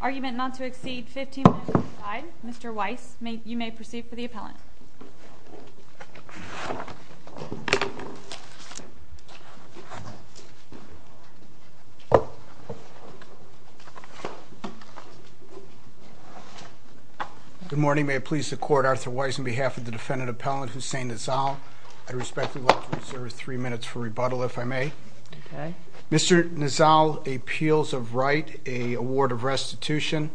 Argument not to exceed 15 minutes was denied. Mr. Weiss, you may proceed for the appellant. Good morning. May it please the Court, Arthur Weiss, on behalf of the U.S. Supreme Court, on behalf of the defendant appellant, Hussein Nazzal, I'd respectfully like to reserve three minutes for rebuttal, if I may. Okay. Mr. Nazzal appeals of right a award of restitution,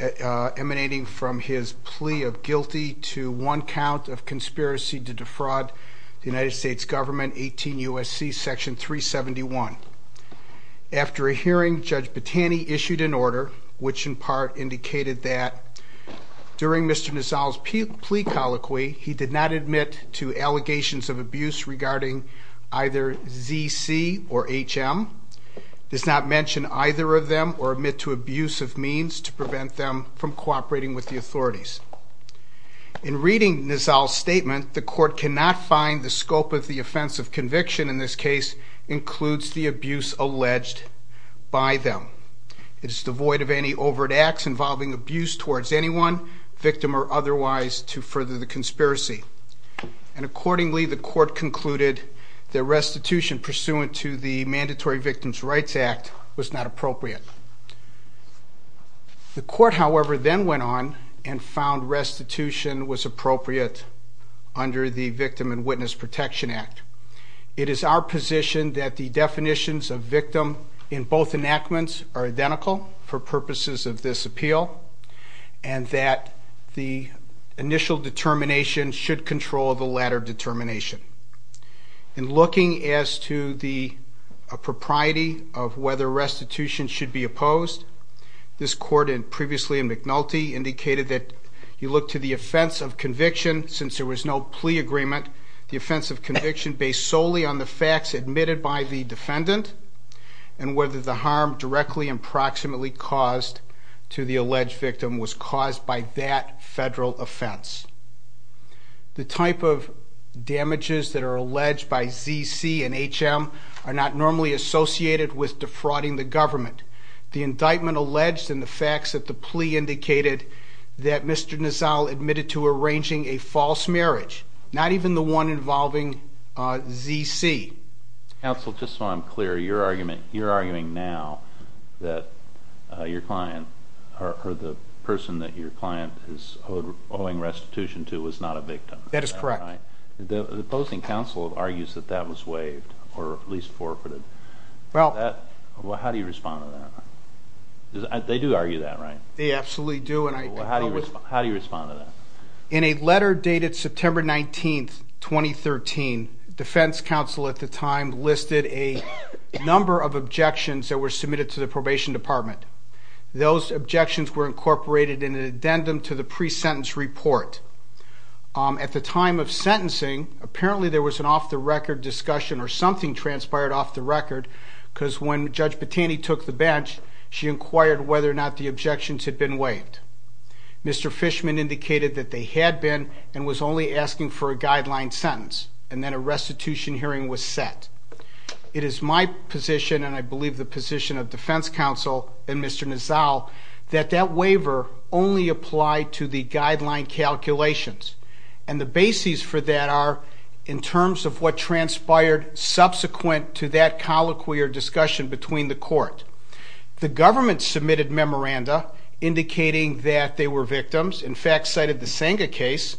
emanating from his plea of guilty to one count of conspiracy to defraud the United States government, 18 U.S.C., section 371. After a hearing, Judge Battani issued an order, which in part indicated that, during Mr. Nazzal's plea colloquy, he did not admit to allegations of abuse regarding either Z.C. or H.M., does not mention either of them, or admit to abuse of means to prevent them from cooperating with the authorities. In reading Nazzal's statement, the Court cannot find the scope of the offense of conviction in this case includes the abuse alleged by them. It is devoid of any overt acts involving abuse towards anyone, victim or otherwise, to further the conspiracy. And accordingly, the Court concluded that restitution pursuant to the Mandatory Victims' Rights Act was not appropriate. The Court, however, then went on and found restitution was appropriate under the Victim and Witness Protection Act. It is our position that the definitions of victim in both enactments are identical for purposes of this appeal, and that the initial determination should control the latter determination. In looking as to the propriety of whether restitution should be opposed, this Court, previously in McNulty, indicated that you look to the offense of conviction, since there was no plea agreement, the offense of conviction based solely on the facts admitted by the defendant, and whether the harm directly and proximately caused to the alleged victim was caused by that federal offense. The type of damages that are alleged by Z.C. and H.M. are not normally associated with defrauding the government. The indictment alleged in the facts that the plea indicated that Mr. Nazzal admitted to arranging a false marriage, not even the one involving Z.C. Counsel, just so I'm clear, you're arguing now that your client, or the person that your client is owing restitution to, was not a victim. That is correct. The opposing counsel argues that that was waived, or at least forfeited. How do you respond to that? They do argue that, right? They absolutely do. How do you respond to that? In a letter dated September 19, 2013, defense counsel at the time listed a number of objections that were submitted to the probation department. Those objections were incorporated in an addendum to the pre-sentence report. At the time of sentencing, apparently there was an off-the-record discussion, or something transpired off the record, because when Judge Battani took the bench, she inquired whether or not the objections had been waived. Mr. Fishman indicated that they had been and was only asking for a guideline sentence, and then a restitution hearing was set. It is my position, and I believe the position of defense counsel and Mr. Nazzal, that that waiver only applied to the guideline calculations, and the bases for that are in terms of what transpired subsequent to that colloquy or discussion between the court. The government submitted memoranda indicating that they were victims, in fact cited the Senga case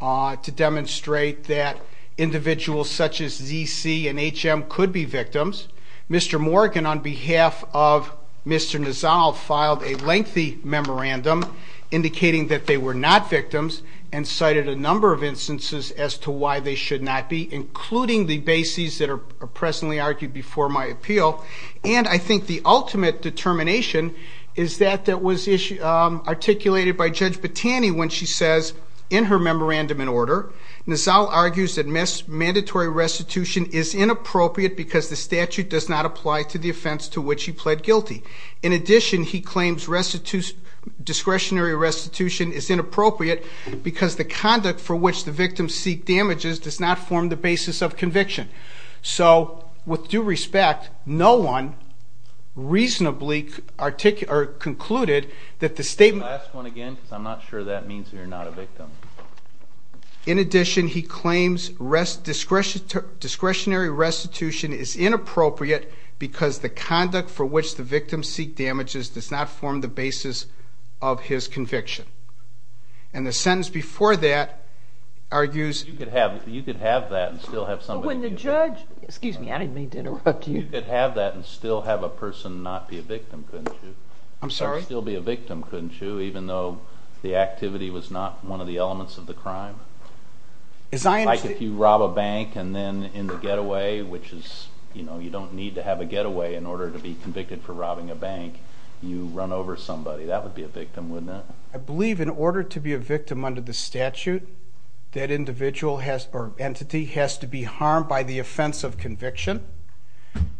to demonstrate that individuals such as Z.C. and H.M. could be victims. Mr. Morgan, on behalf of Mr. Nazzal, filed a lengthy memorandum indicating that they were not victims and cited a number of instances as to why they should not be, including the bases that are presently argued before my appeal. And I think the ultimate determination is that that was articulated by Judge Battani when she says in her memorandum in order, Nazzal argues that mandatory restitution is inappropriate because the statute does not apply to the offense to which he pled guilty. In addition, he claims discretionary restitution is inappropriate because the conduct for which the victim seek damages does not form the basis of conviction. So with due respect, no one reasonably concluded that the statement... Last one again because I'm not sure that means you're not a victim. In addition, he claims discretionary restitution is inappropriate because the conduct for which the victim seek damages does not form the basis of his conviction. And the sentence before that argues... You could have that and still have somebody... When the judge... Excuse me, I didn't mean to interrupt you. You could have that and still have a person not be a victim, couldn't you? I'm sorry? Still be a victim, couldn't you, even though the activity was not one of the elements of the crime? It's like if you rob a bank and then in the getaway, which is, you know, you don't need to have a getaway in order to be convicted for robbing a bank, you run over somebody, that would be a victim, wouldn't it? I believe in order to be a victim under the statute, that individual or entity has to be harmed by the offense of conviction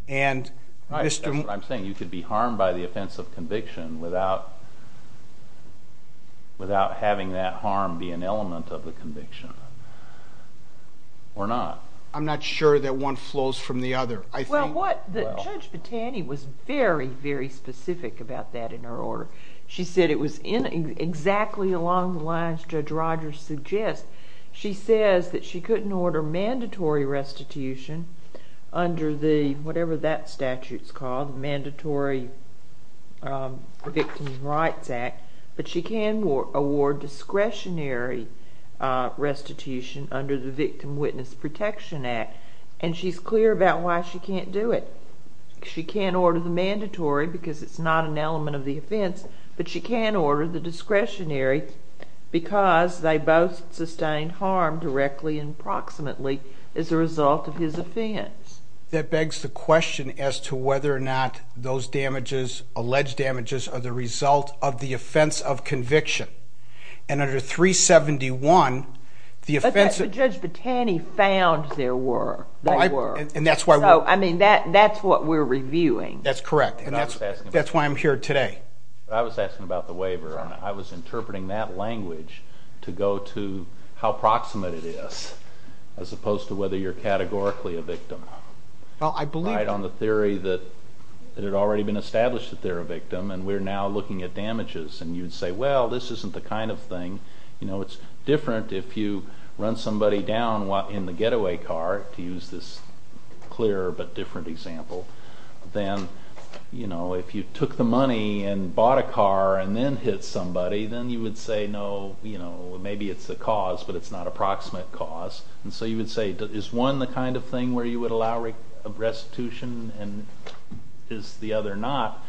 and... Right, that's what I'm saying. You could be harmed by the offense of conviction without having that harm be an element of the conviction or not. I'm not sure that one flows from the other. Well, Judge Battani was very, very specific about that in her order. She said it was exactly along the lines Judge Rogers suggests. She says that she couldn't order mandatory restitution under the, whatever that statute's called, the Mandatory Victim Rights Act, but she can award discretionary restitution under the Victim Witness Protection Act, and she's clear about why she can't do it. She can't order the mandatory because it's not an element of the offense, but she can order the discretionary because they both sustain harm directly and approximately as a result of his offense. That begs the question as to whether or not those damages, alleged damages, are the result of the offense of conviction. And under 371, the offense... But Judge Battani found there were. There were. I mean, that's what we're reviewing. That's correct, and that's why I'm here today. I was asking about the waiver, and I was interpreting that language to go to how proximate it is as opposed to whether you're categorically a victim. Well, I believe... Right on the theory that it had already been established that they're a victim, and we're now looking at damages, and you'd say, well, this isn't the kind of thing, you know, that's different if you run somebody down in the getaway car, to use this clear but different example, than, you know, if you took the money and bought a car and then hit somebody, then you would say, no, you know, maybe it's the cause, but it's not a proximate cause. And so you would say, is one the kind of thing where you would allow restitution and is the other not?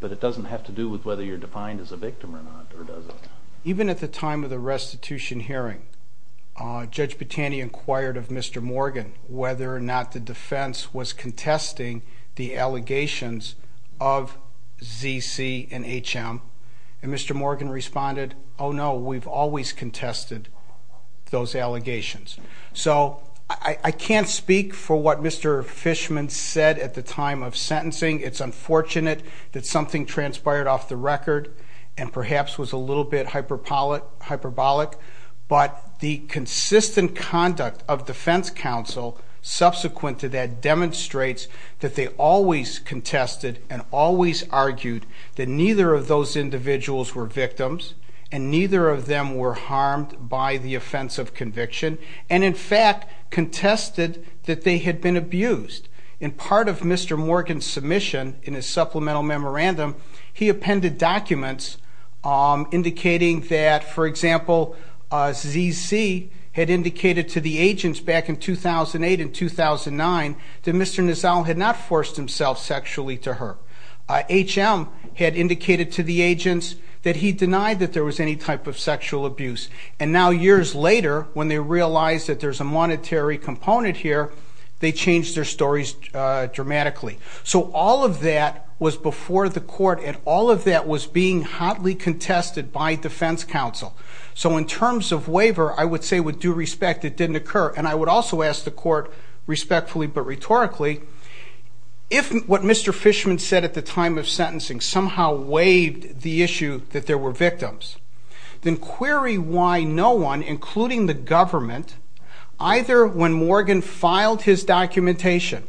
But it doesn't have to do with whether you're defined as a victim or not, or does it? Even at the time of the restitution hearing, Judge Bottani inquired of Mr. Morgan whether or not the defense was contesting the allegations of ZC and HM, and Mr. Morgan responded, oh, no, we've always contested those allegations. So I can't speak for what Mr. Fishman said at the time of sentencing. It's unfortunate that something transpired off the record and perhaps was a little bit hyperbolic, but the consistent conduct of defense counsel subsequent to that demonstrates that they always contested and always argued that neither of those individuals were victims and neither of them were harmed by the offense of conviction and, in fact, contested that they had been abused. In part of Mr. Morgan's submission in his supplemental memorandum, he appended documents indicating that, for example, ZC had indicated to the agents back in 2008 and 2009 that Mr. Nizal had not forced himself sexually to her. HM had indicated to the agents that he denied that there was any type of sexual abuse. And now years later, when they realize that there's a monetary component here, they change their stories dramatically. So all of that was before the court and all of that was being hotly contested by defense counsel. So in terms of waiver, I would say with due respect, it didn't occur. And I would also ask the court, respectfully but rhetorically, if what Mr. Fishman said at the time of sentencing somehow waived the issue that there were victims, then query why no one, including the government, either when Morgan filed his documentation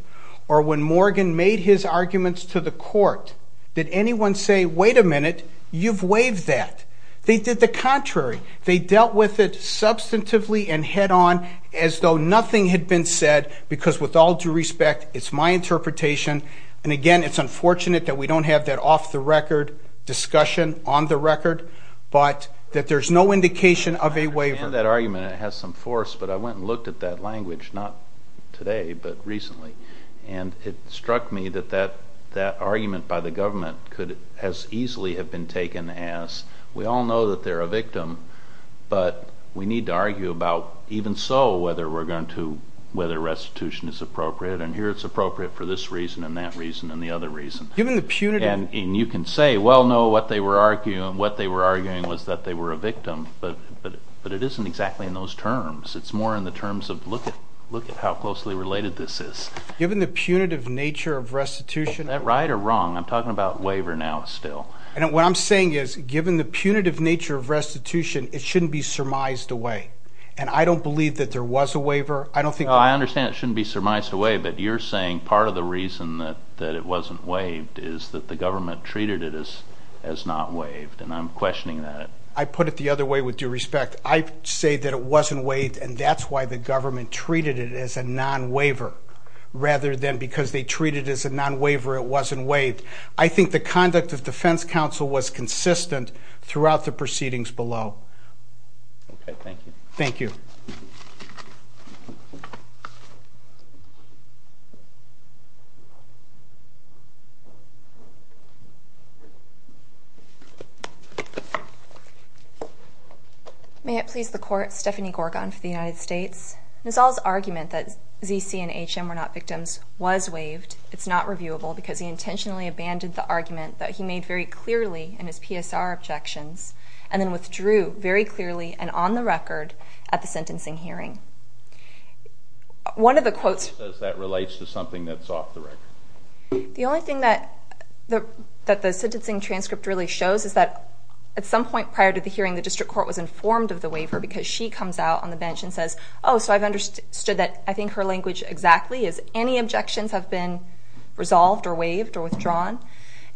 or when Morgan made his arguments to the court, did anyone say, wait a minute, you've waived that. They did the contrary. They dealt with it substantively and head-on as though nothing had been said because with all due respect, it's my interpretation. And again, it's unfortunate that we don't have that off-the-record discussion on the record, but that there's no indication of a waiver. I understand that argument and it has some force, but I went and looked at that language, not today but recently, and it struck me that that argument by the government could as easily have been taken as we all know that they're a victim, but we need to argue about even so whether restitution is appropriate, and here it's appropriate for this reason and that reason and the other reason. And you can say, well, no, what they were arguing was that they were a victim, but it isn't exactly in those terms. It's more in the terms of look at how closely related this is. Given the punitive nature of restitution. Is that right or wrong? I'm talking about waiver now still. What I'm saying is given the punitive nature of restitution, it shouldn't be surmised away, and I don't believe that there was a waiver. I understand it shouldn't be surmised away, but you're saying part of the reason that it wasn't waived is that the government treated it as not waived, and I'm questioning that. I put it the other way with due respect. I say that it wasn't waived, and that's why the government treated it as a non-waiver rather than because they treated it as a non-waiver it wasn't waived. I think the conduct of defense counsel was consistent throughout the proceedings below. Okay, thank you. Thank you. May it please the Court. Stephanie Gorgon for the United States. Nizal's argument that Z.C. and H.M. were not victims was waived. It's not reviewable because he intentionally abandoned the argument that he made very clearly in his PSR objections and then withdrew very clearly and on the record at the sentencing hearing. One of the quotes. That relates to something that's off the record. The only thing that the sentencing transcript really shows is that at some point prior to the hearing, the district court was informed of the waiver because she comes out on the bench and says, oh, so I've understood that I think her language exactly is any objections have been resolved or waived or withdrawn.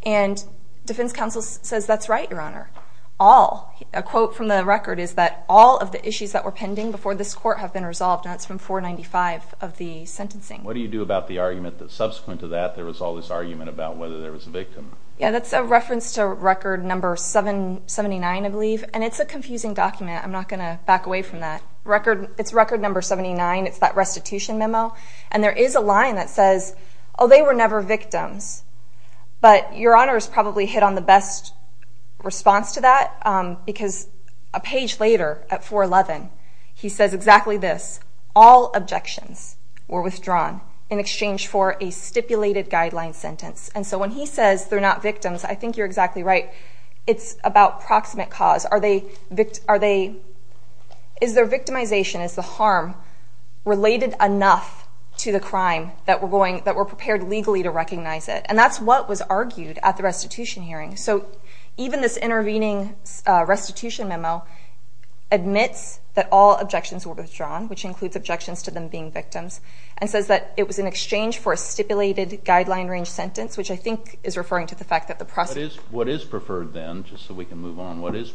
And defense counsel says, that's right, Your Honor, all. A quote from the record is that all of the issues that were pending before this court have been resolved, and that's from 495 of the sentencing. What do you do about the argument that subsequent to that there was all this argument about whether there was a victim? Yeah, that's a reference to record number 779, I believe. And it's a confusing document. I'm not going to back away from that. It's record number 79. It's that restitution memo. And there is a line that says, oh, they were never victims. But Your Honor has probably hit on the best response to that because a page later at 411, he says exactly this. All objections were withdrawn in exchange for a stipulated guideline sentence. And so when he says they're not victims, I think you're exactly right. It's about proximate cause. Is their victimization, is the harm related enough to the crime that we're prepared legally to recognize it? And that's what was argued at the restitution hearing. So even this intervening restitution memo admits that all objections were withdrawn, which includes objections to them being victims, and says that it was in exchange for a stipulated guideline range sentence, which I think is referring to the fact that the prosecution What is preferred then, just so we can move on, what is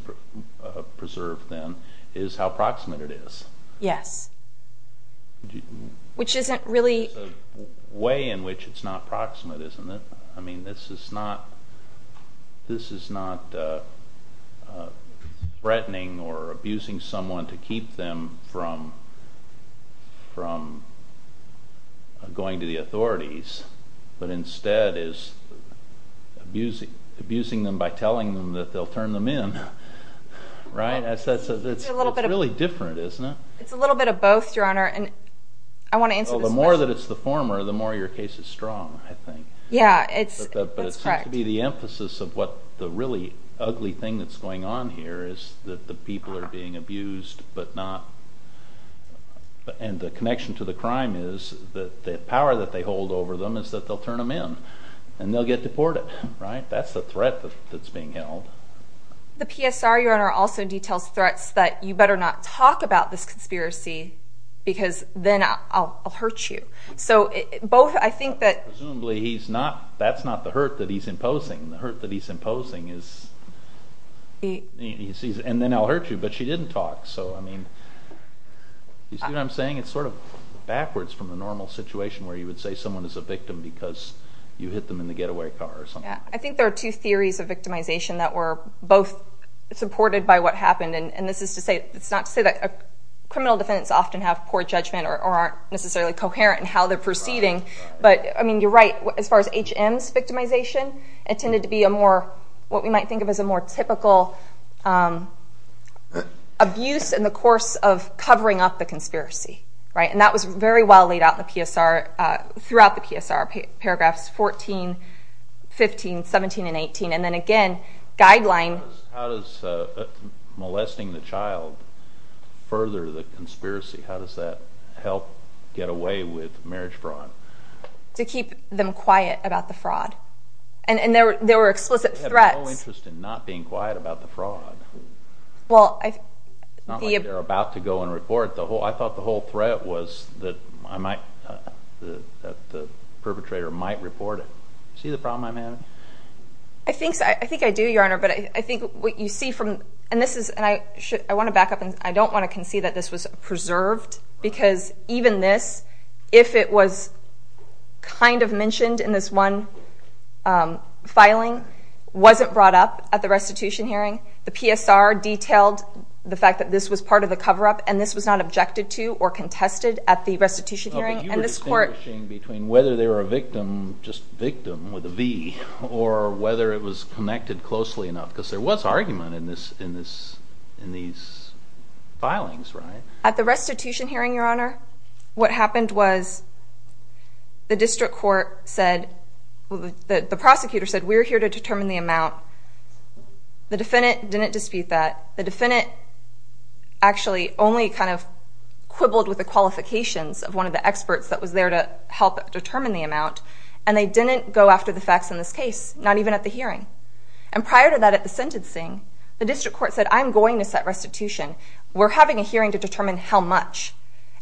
preserved then, is how proximate it is. Yes. Which isn't really There's a way in which it's not proximate, isn't it? I mean, this is not threatening or abusing someone to keep them from going to the authorities, but instead is abusing them by telling them that they'll turn them in. Right? It's a little bit It's really different, isn't it? It's a little bit of both, Your Honor, and I want to answer this question. Well, the more that it's the former, the more your case is strong, I think. Yeah, that's correct. But it seems to be the emphasis of what the really ugly thing that's going on here is that the people are being abused, but not and the connection to the crime is that the power that they hold over them is that they'll turn them in, and they'll get deported, right? That's the threat that's being held. The PSR, Your Honor, also details threats that you better not talk about this conspiracy because then I'll hurt you. Presumably, that's not the hurt that he's imposing. The hurt that he's imposing is, and then I'll hurt you, but she didn't talk. So, I mean, you see what I'm saying? It's sort of backwards from the normal situation where you would say someone is a victim because you hit them in the getaway car or something. Yeah, I think there are two theories of victimization that were both supported by what happened, and this is not to say that criminal defendants often have poor judgment or aren't necessarily coherent in how they're proceeding, but, I mean, you're right. As far as H.M.'s victimization, it tended to be a more, what we might think of as a more typical abuse in the course of covering up the conspiracy, right? And that was very well laid out in the PSR, throughout the PSR, paragraphs 14, 15, 17, and 18, How does molesting the child further the conspiracy? How does that help get away with marriage fraud? To keep them quiet about the fraud. And there were explicit threats. They have no interest in not being quiet about the fraud. It's not like they're about to go and report. I thought the whole threat was that the perpetrator might report it. See the problem I'm having? I think I do, Your Honor, but I think what you see from, and this is, and I want to back up, and I don't want to concede that this was preserved, because even this, if it was kind of mentioned in this one filing, wasn't brought up at the restitution hearing. The PSR detailed the fact that this was part of the cover-up, and this was not objected to or contested at the restitution hearing. And this court... Oh, but you were distinguishing between whether they were a victim, just victim with a V, or whether it was connected closely enough, because there was argument in these filings, right? At the restitution hearing, Your Honor, what happened was the district court said, the prosecutor said, we're here to determine the amount. The defendant didn't dispute that. The defendant actually only kind of quibbled with the qualifications of one of the experts that was there to help determine the amount, and they didn't go after the facts in this case, not even at the hearing. And prior to that, at the sentencing, the district court said, I'm going to set restitution. We're having a hearing to determine how much,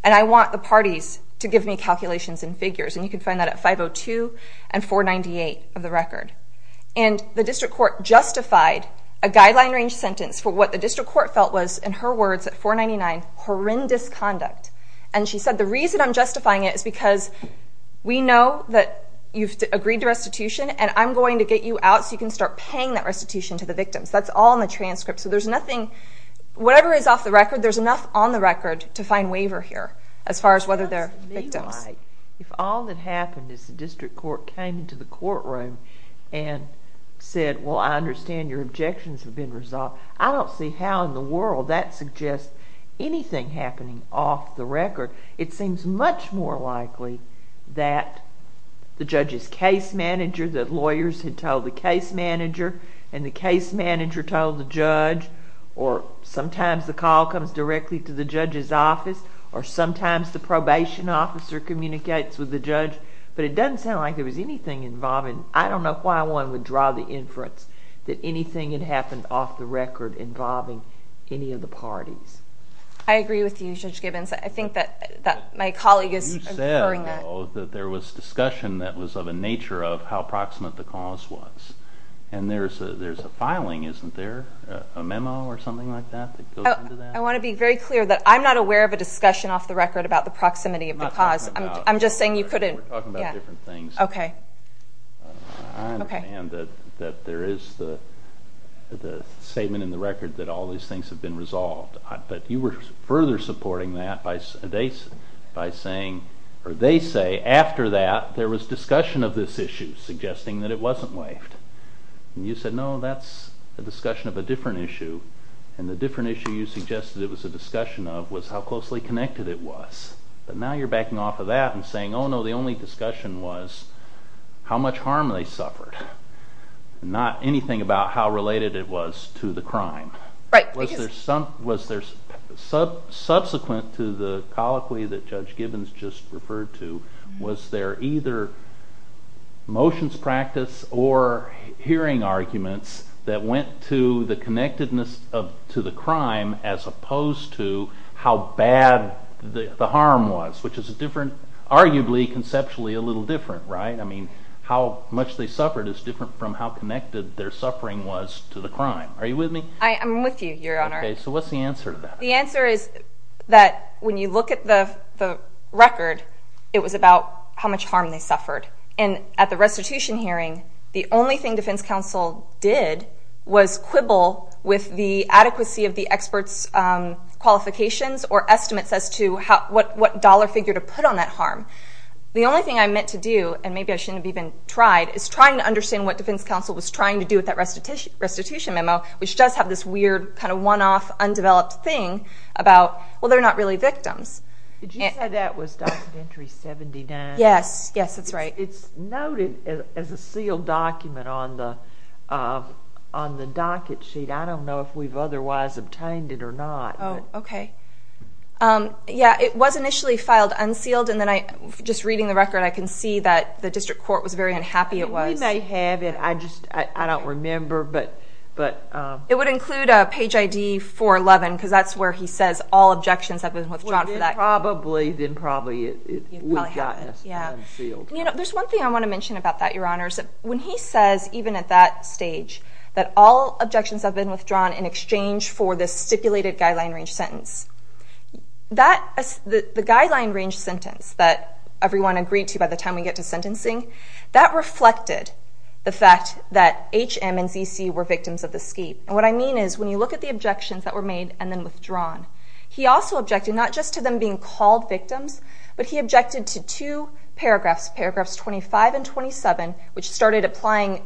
and I want the parties to give me calculations and figures. And you can find that at 502 and 498 of the record. And the district court justified a guideline-range sentence for what the district court felt was, in her words at 499, horrendous conduct. And she said, the reason I'm justifying it is because we know that you've agreed to restitution, and I'm going to get you out so you can start paying that restitution to the victims. That's all in the transcript. So there's nothing, whatever is off the record, there's enough on the record to find waiver here, as far as whether they're victims. If all that happened is the district court came into the courtroom and said, well, I understand your objections have been resolved, I don't see how in the world that suggests anything happening off the record. It seems much more likely that the judge's case manager, that lawyers had told the case manager, and the case manager told the judge, or sometimes the call comes directly to the judge's office, or sometimes the probation officer communicates with the judge. But it doesn't sound like there was anything involving, I don't know why one would draw the inference that anything had happened off the record involving any of the parties. I agree with you, Judge Gibbons. I think that my colleague is inferring that. There was discussion that was of a nature of how proximate the cause was. And there's a filing, isn't there, a memo or something like that that goes into that? I want to be very clear that I'm not aware of a discussion off the record about the proximity of the cause. I'm just saying you couldn't. We're talking about different things. Okay. I understand that there is the statement in the record that all these things have been resolved. But you were further supporting that by saying, or they say, after that there was discussion of this issue, suggesting that it wasn't waived. And you said, no, that's a discussion of a different issue, and the different issue you suggested it was a discussion of was how closely connected it was. But now you're backing off of that and saying, oh, no, the only discussion was how much harm they suffered, not anything about how related it was to the crime. Right. Was there subsequent to the colloquy that Judge Gibbons just referred to, was there either motions practice or hearing arguments that went to the connectedness to the crime as opposed to how bad the harm was, which is arguably conceptually a little different, right? I mean, how much they suffered is different from how connected their suffering was to the crime. Are you with me? I am with you, Your Honor. Okay. So what's the answer to that? The answer is that when you look at the record, it was about how much harm they suffered. And at the restitution hearing, the only thing defense counsel did was quibble with the adequacy of the expert's qualifications or estimates as to what dollar figure to put on that harm. The only thing I meant to do, and maybe I shouldn't have even tried, is trying to understand what defense counsel was trying to do with that restitution memo, which does have this weird kind of one-off undeveloped thing about, well, they're not really victims. Did you say that was docket entry 79? Yes. Yes, that's right. It's noted as a sealed document on the docket sheet. I don't know if we've otherwise obtained it or not. Oh, okay. Yeah, it was initially filed unsealed, and then just reading the record, I can see that the district court was very unhappy it was. We may have it. I don't remember. It would include a page ID 411, because that's where he says all objections have been withdrawn for that. Well, then probably we've gotten it unsealed. There's one thing I want to mention about that, Your Honors. When he says, even at that stage, that all objections have been withdrawn in exchange for this stipulated guideline range sentence, the guideline range sentence that everyone agreed to by the time we get to sentencing, that reflected the fact that H.M. and Z.C. were victims of the scheme. And what I mean is when you look at the objections that were made and then withdrawn, he also objected not just to them being called victims, but he objected to two paragraphs, paragraphs 25 and 27, which started applying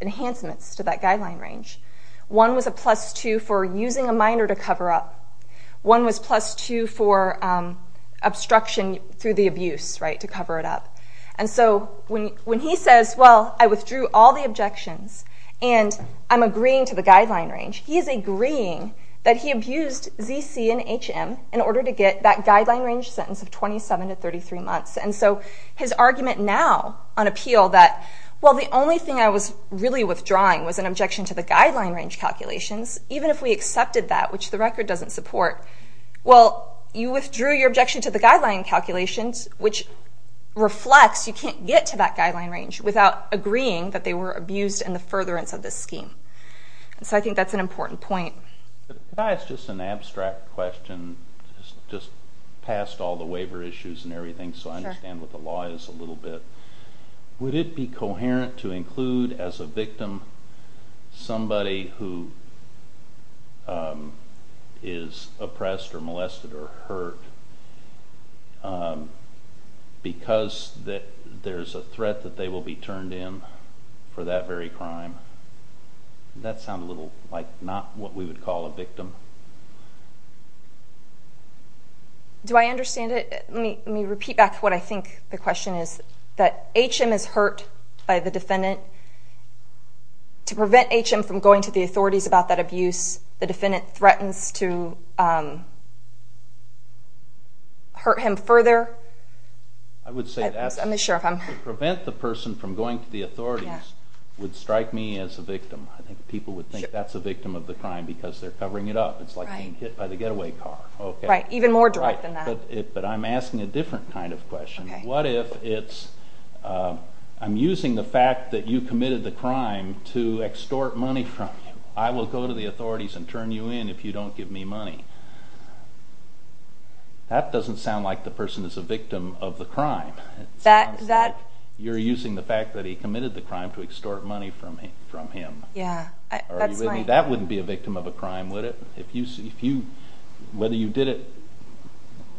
enhancements to that guideline range. One was a plus two for using a minor to cover up. One was plus two for obstruction through the abuse, right, to cover it up. And so when he says, well, I withdrew all the objections and I'm agreeing to the guideline range, he is agreeing that he abused Z.C. and H.M. in order to get that guideline range sentence of 27 to 33 months. And so his argument now on appeal that, well, the only thing I was really withdrawing was an objection to the guideline range calculations, even if we accepted that, which the record doesn't support. Well, you withdrew your objection to the guideline calculations, which reflects you can't get to that guideline range without agreeing that they were abused in the furtherance of this scheme. And so I think that's an important point. If I ask just an abstract question, just past all the waiver issues and everything, so I understand what the law is a little bit, but would it be coherent to include as a victim somebody who is oppressed or molested or hurt because there's a threat that they will be turned in for that very crime? Does that sound a little like not what we would call a victim? Do I understand it? Let me repeat back what I think the question is, that H.M. is hurt by the defendant. To prevent H.M. from going to the authorities about that abuse, the defendant threatens to hurt him further. I would say that to prevent the person from going to the authorities would strike me as a victim. I think people would think that's a victim of the crime because they're covering it up. It's like being hit by the getaway car. Even more direct than that. But I'm asking a different kind of question. What if I'm using the fact that you committed the crime to extort money from you? I will go to the authorities and turn you in if you don't give me money. That doesn't sound like the person is a victim of the crime. It sounds like you're using the fact that he committed the crime to extort money from him. That wouldn't be a victim of a crime, would it? Whether you did it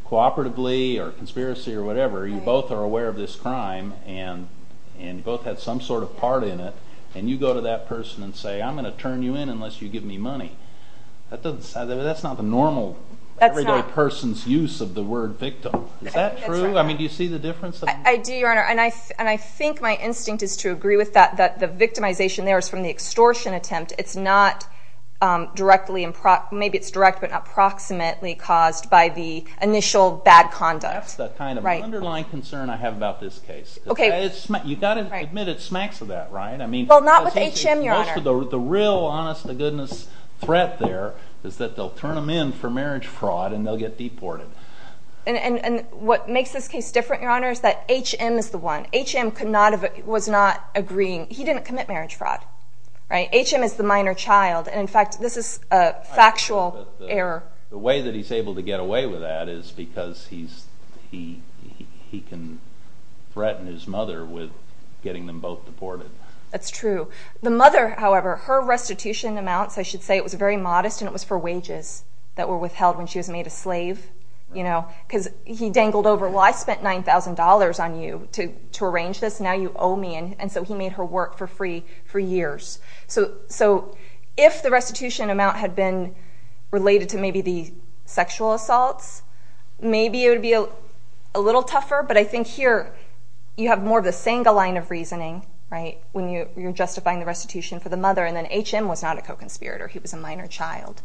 cooperatively or conspiracy or whatever, you both are aware of this crime, and you both had some sort of part in it, and you go to that person and say, I'm going to turn you in unless you give me money. That's not the normal everyday person's use of the word victim. Is that true? Do you see the difference? I do, Your Honor. And I think my instinct is to agree with that, that the victimization there is from the extortion attempt. It's not directly, maybe it's direct, but not proximately caused by the initial bad conduct. That's the kind of underlying concern I have about this case. You've got to admit it smacks of that, right? Well, not with H.M., Your Honor. The real honest-to-goodness threat there is that they'll turn him in for marriage fraud, and they'll get deported. And what makes this case different, Your Honor, is that H.M. is the one. H.M. was not agreeing. He didn't commit marriage fraud. H.M. is the minor child. And, in fact, this is a factual error. The way that he's able to get away with that is because he can threaten his mother with getting them both deported. That's true. The mother, however, her restitution amounts, I should say it was very modest, and it was for wages that were withheld when she was made a slave. Because he dangled over, well, I spent $9,000 on you to arrange this, and now you owe me, and so he made her work for free for years. So if the restitution amount had been related to maybe the sexual assaults, maybe it would be a little tougher, but I think here you have more of a single line of reasoning, right, when you're justifying the restitution for the mother, and then H.M. was not a co-conspirator. He was a minor child.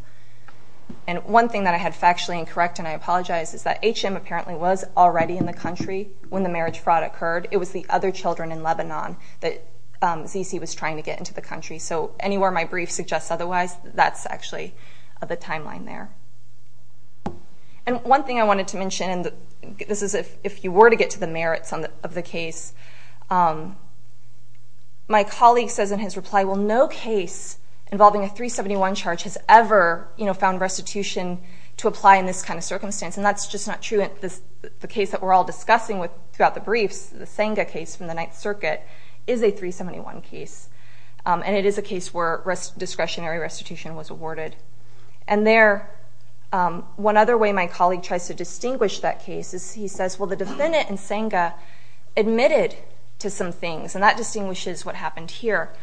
And one thing that I had factually incorrect, and I apologize, is that H.M. apparently was already in the country when the marriage fraud occurred. It was the other children in Lebanon that Zizi was trying to get into the country. So anywhere my brief suggests otherwise, that's actually the timeline there. And one thing I wanted to mention, and this is if you were to get to the merits of the case, my colleague says in his reply, well, no case involving a 371 charge has ever found restitution to apply in this kind of circumstance, and that's just not true. The case that we're all discussing throughout the briefs, the Senga case from the Ninth Circuit, is a 371 case, and it is a case where discretionary restitution was awarded. And there, one other way my colleague tries to distinguish that case is he says, well, the defendant in Senga admitted to some things, and that distinguishes what happened here.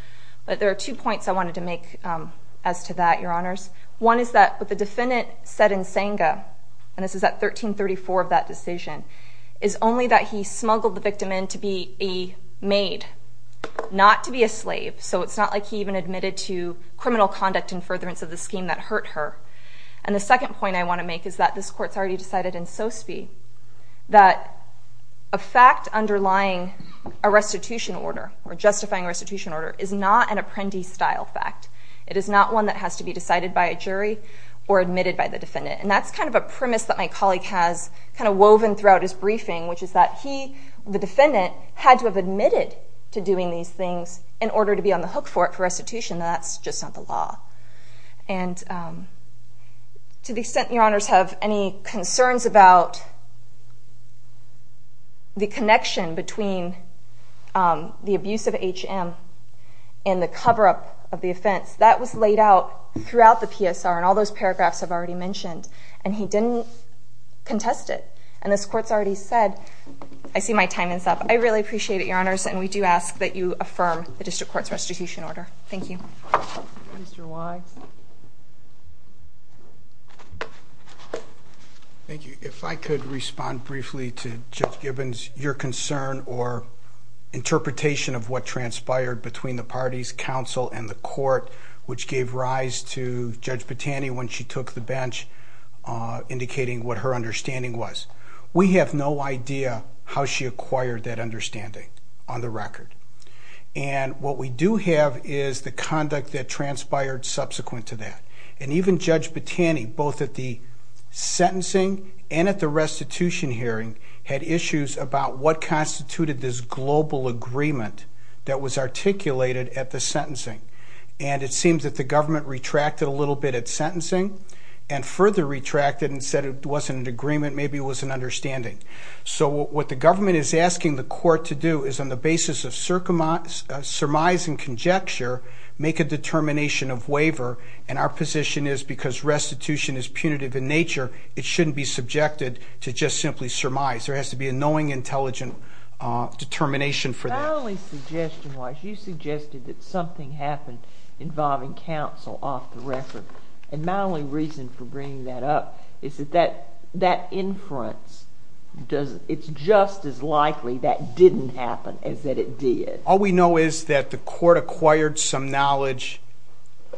But there are two points I wanted to make as to that, Your Honors. One is that what the defendant said in Senga, and this is at 1334 of that decision, is only that he smuggled the victim in to be a maid, not to be a slave. So it's not like he even admitted to criminal conduct in furtherance of the scheme that hurt her. And the second point I want to make is that this Court's already decided in Sospi that a fact underlying a restitution order or justifying a restitution order is not an apprentice-style fact. It is not one that has to be decided by a jury or admitted by the defendant. And that's kind of a premise that my colleague has kind of woven throughout his briefing, which is that he, the defendant, had to have admitted to doing these things in order to be on the hook for restitution, and that's just not the law. And to the extent, Your Honors, have any concerns about the connection between the abuse of H.M. and the cover-up of the offense, that was laid out throughout the PSR, and all those paragraphs I've already mentioned, and he didn't contest it. And this Court's already said. I see my time is up. I really appreciate it, Your Honors, and we do ask that you affirm the District Court's restitution order. Thank you. Mr. Wise. Thank you. If I could respond briefly to Judge Gibbons, your concern or interpretation of what transpired between the parties, counsel and the Court, which gave rise to Judge Battani when she took the bench, indicating what her understanding was. We have no idea how she acquired that understanding, on the record. And what we do have is the conduct that transpired subsequent to that. And even Judge Battani, both at the sentencing and at the restitution hearing, had issues about what constituted this global agreement that was articulated at the sentencing. And it seems that the government retracted a little bit at sentencing and further retracted and said it wasn't an agreement, maybe it was an understanding. So what the government is asking the Court to do is on the basis of surmise and conjecture, make a determination of waiver. And our position is because restitution is punitive in nature, it shouldn't be subjected to just simply surmise. There has to be a knowing, intelligent determination for that. Not only suggestion-wise, you suggested that something happened involving counsel off the record. And my only reason for bringing that up is that that inference, it's just as likely that didn't happen as that it did. All we know is that the Court acquired some knowledge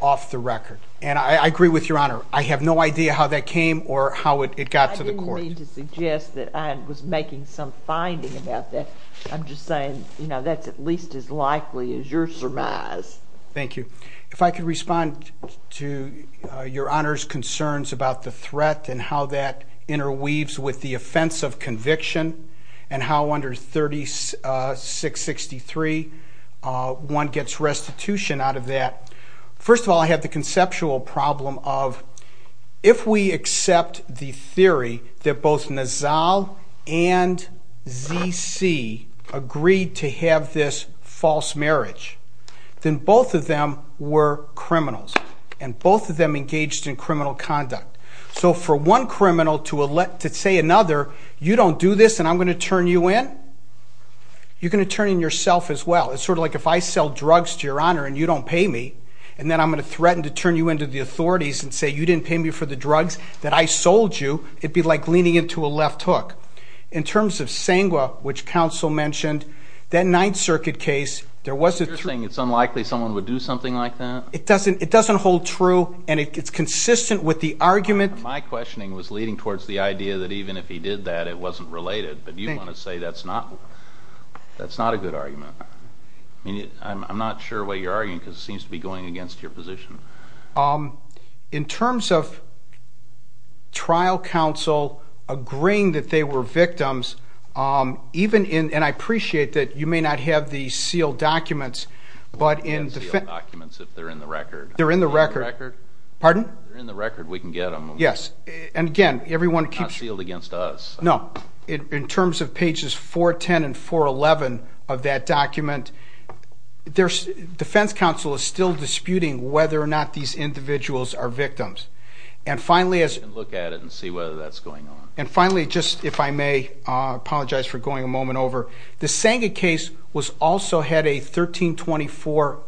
off the record. And I agree with Your Honor. I have no idea how that came or how it got to the Court. I didn't mean to suggest that I was making some finding about that. I'm just saying, you know, that's at least as likely as your surmise. Thank you. If I could respond to Your Honor's concerns about the threat and how that interweaves with the offense of conviction and how under 3663, one gets restitution out of that. First of all, I have the conceptual problem of if we accept the theory that both Nassau and Z.C. agreed to have this false marriage, then both of them were criminals and both of them engaged in criminal conduct. So for one criminal to say another, you don't do this and I'm going to turn you in, you're going to turn in yourself as well. It's sort of like if I sell drugs to Your Honor and you don't pay me, and then I'm going to threaten to turn you into the authorities and say you didn't pay me for the drugs that I sold you, it'd be like leaning into a left hook. In terms of Sengwa, which counsel mentioned, that Ninth Circuit case, there was a... You're saying it's unlikely someone would do something like that? It doesn't hold true and it's consistent with the argument... My questioning was leading towards the idea that even if he did that, it wasn't related, but you want to say that's not a good argument. I'm not sure what you're arguing because it seems to be going against your position. In terms of trial counsel agreeing that they were victims, and I appreciate that you may not have the sealed documents, but in defense... We'll have sealed documents if they're in the record. They're in the record. Pardon? If they're in the record, we can get them. Yes. And again, everyone keeps... Not sealed against us. No. In terms of pages 410 and 411 of that document, defense counsel is still disputing whether or not these individuals are victims. And finally... We can look at it and see whether that's going on. And finally, just if I may apologize for going a moment over, the Senga case also had a 1324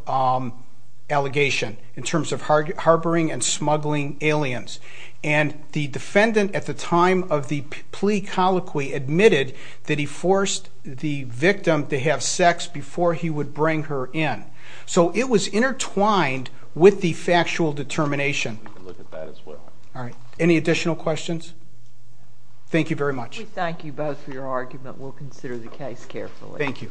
allegation in terms of harboring and smuggling aliens. And the defendant at the time of the plea colloquy admitted that he forced the victim to have sex before he would bring her in. So it was intertwined with the factual determination. We can look at that as well. All right. Any additional questions? Thank you very much. We thank you both for your argument. We'll consider the case carefully. Thank you.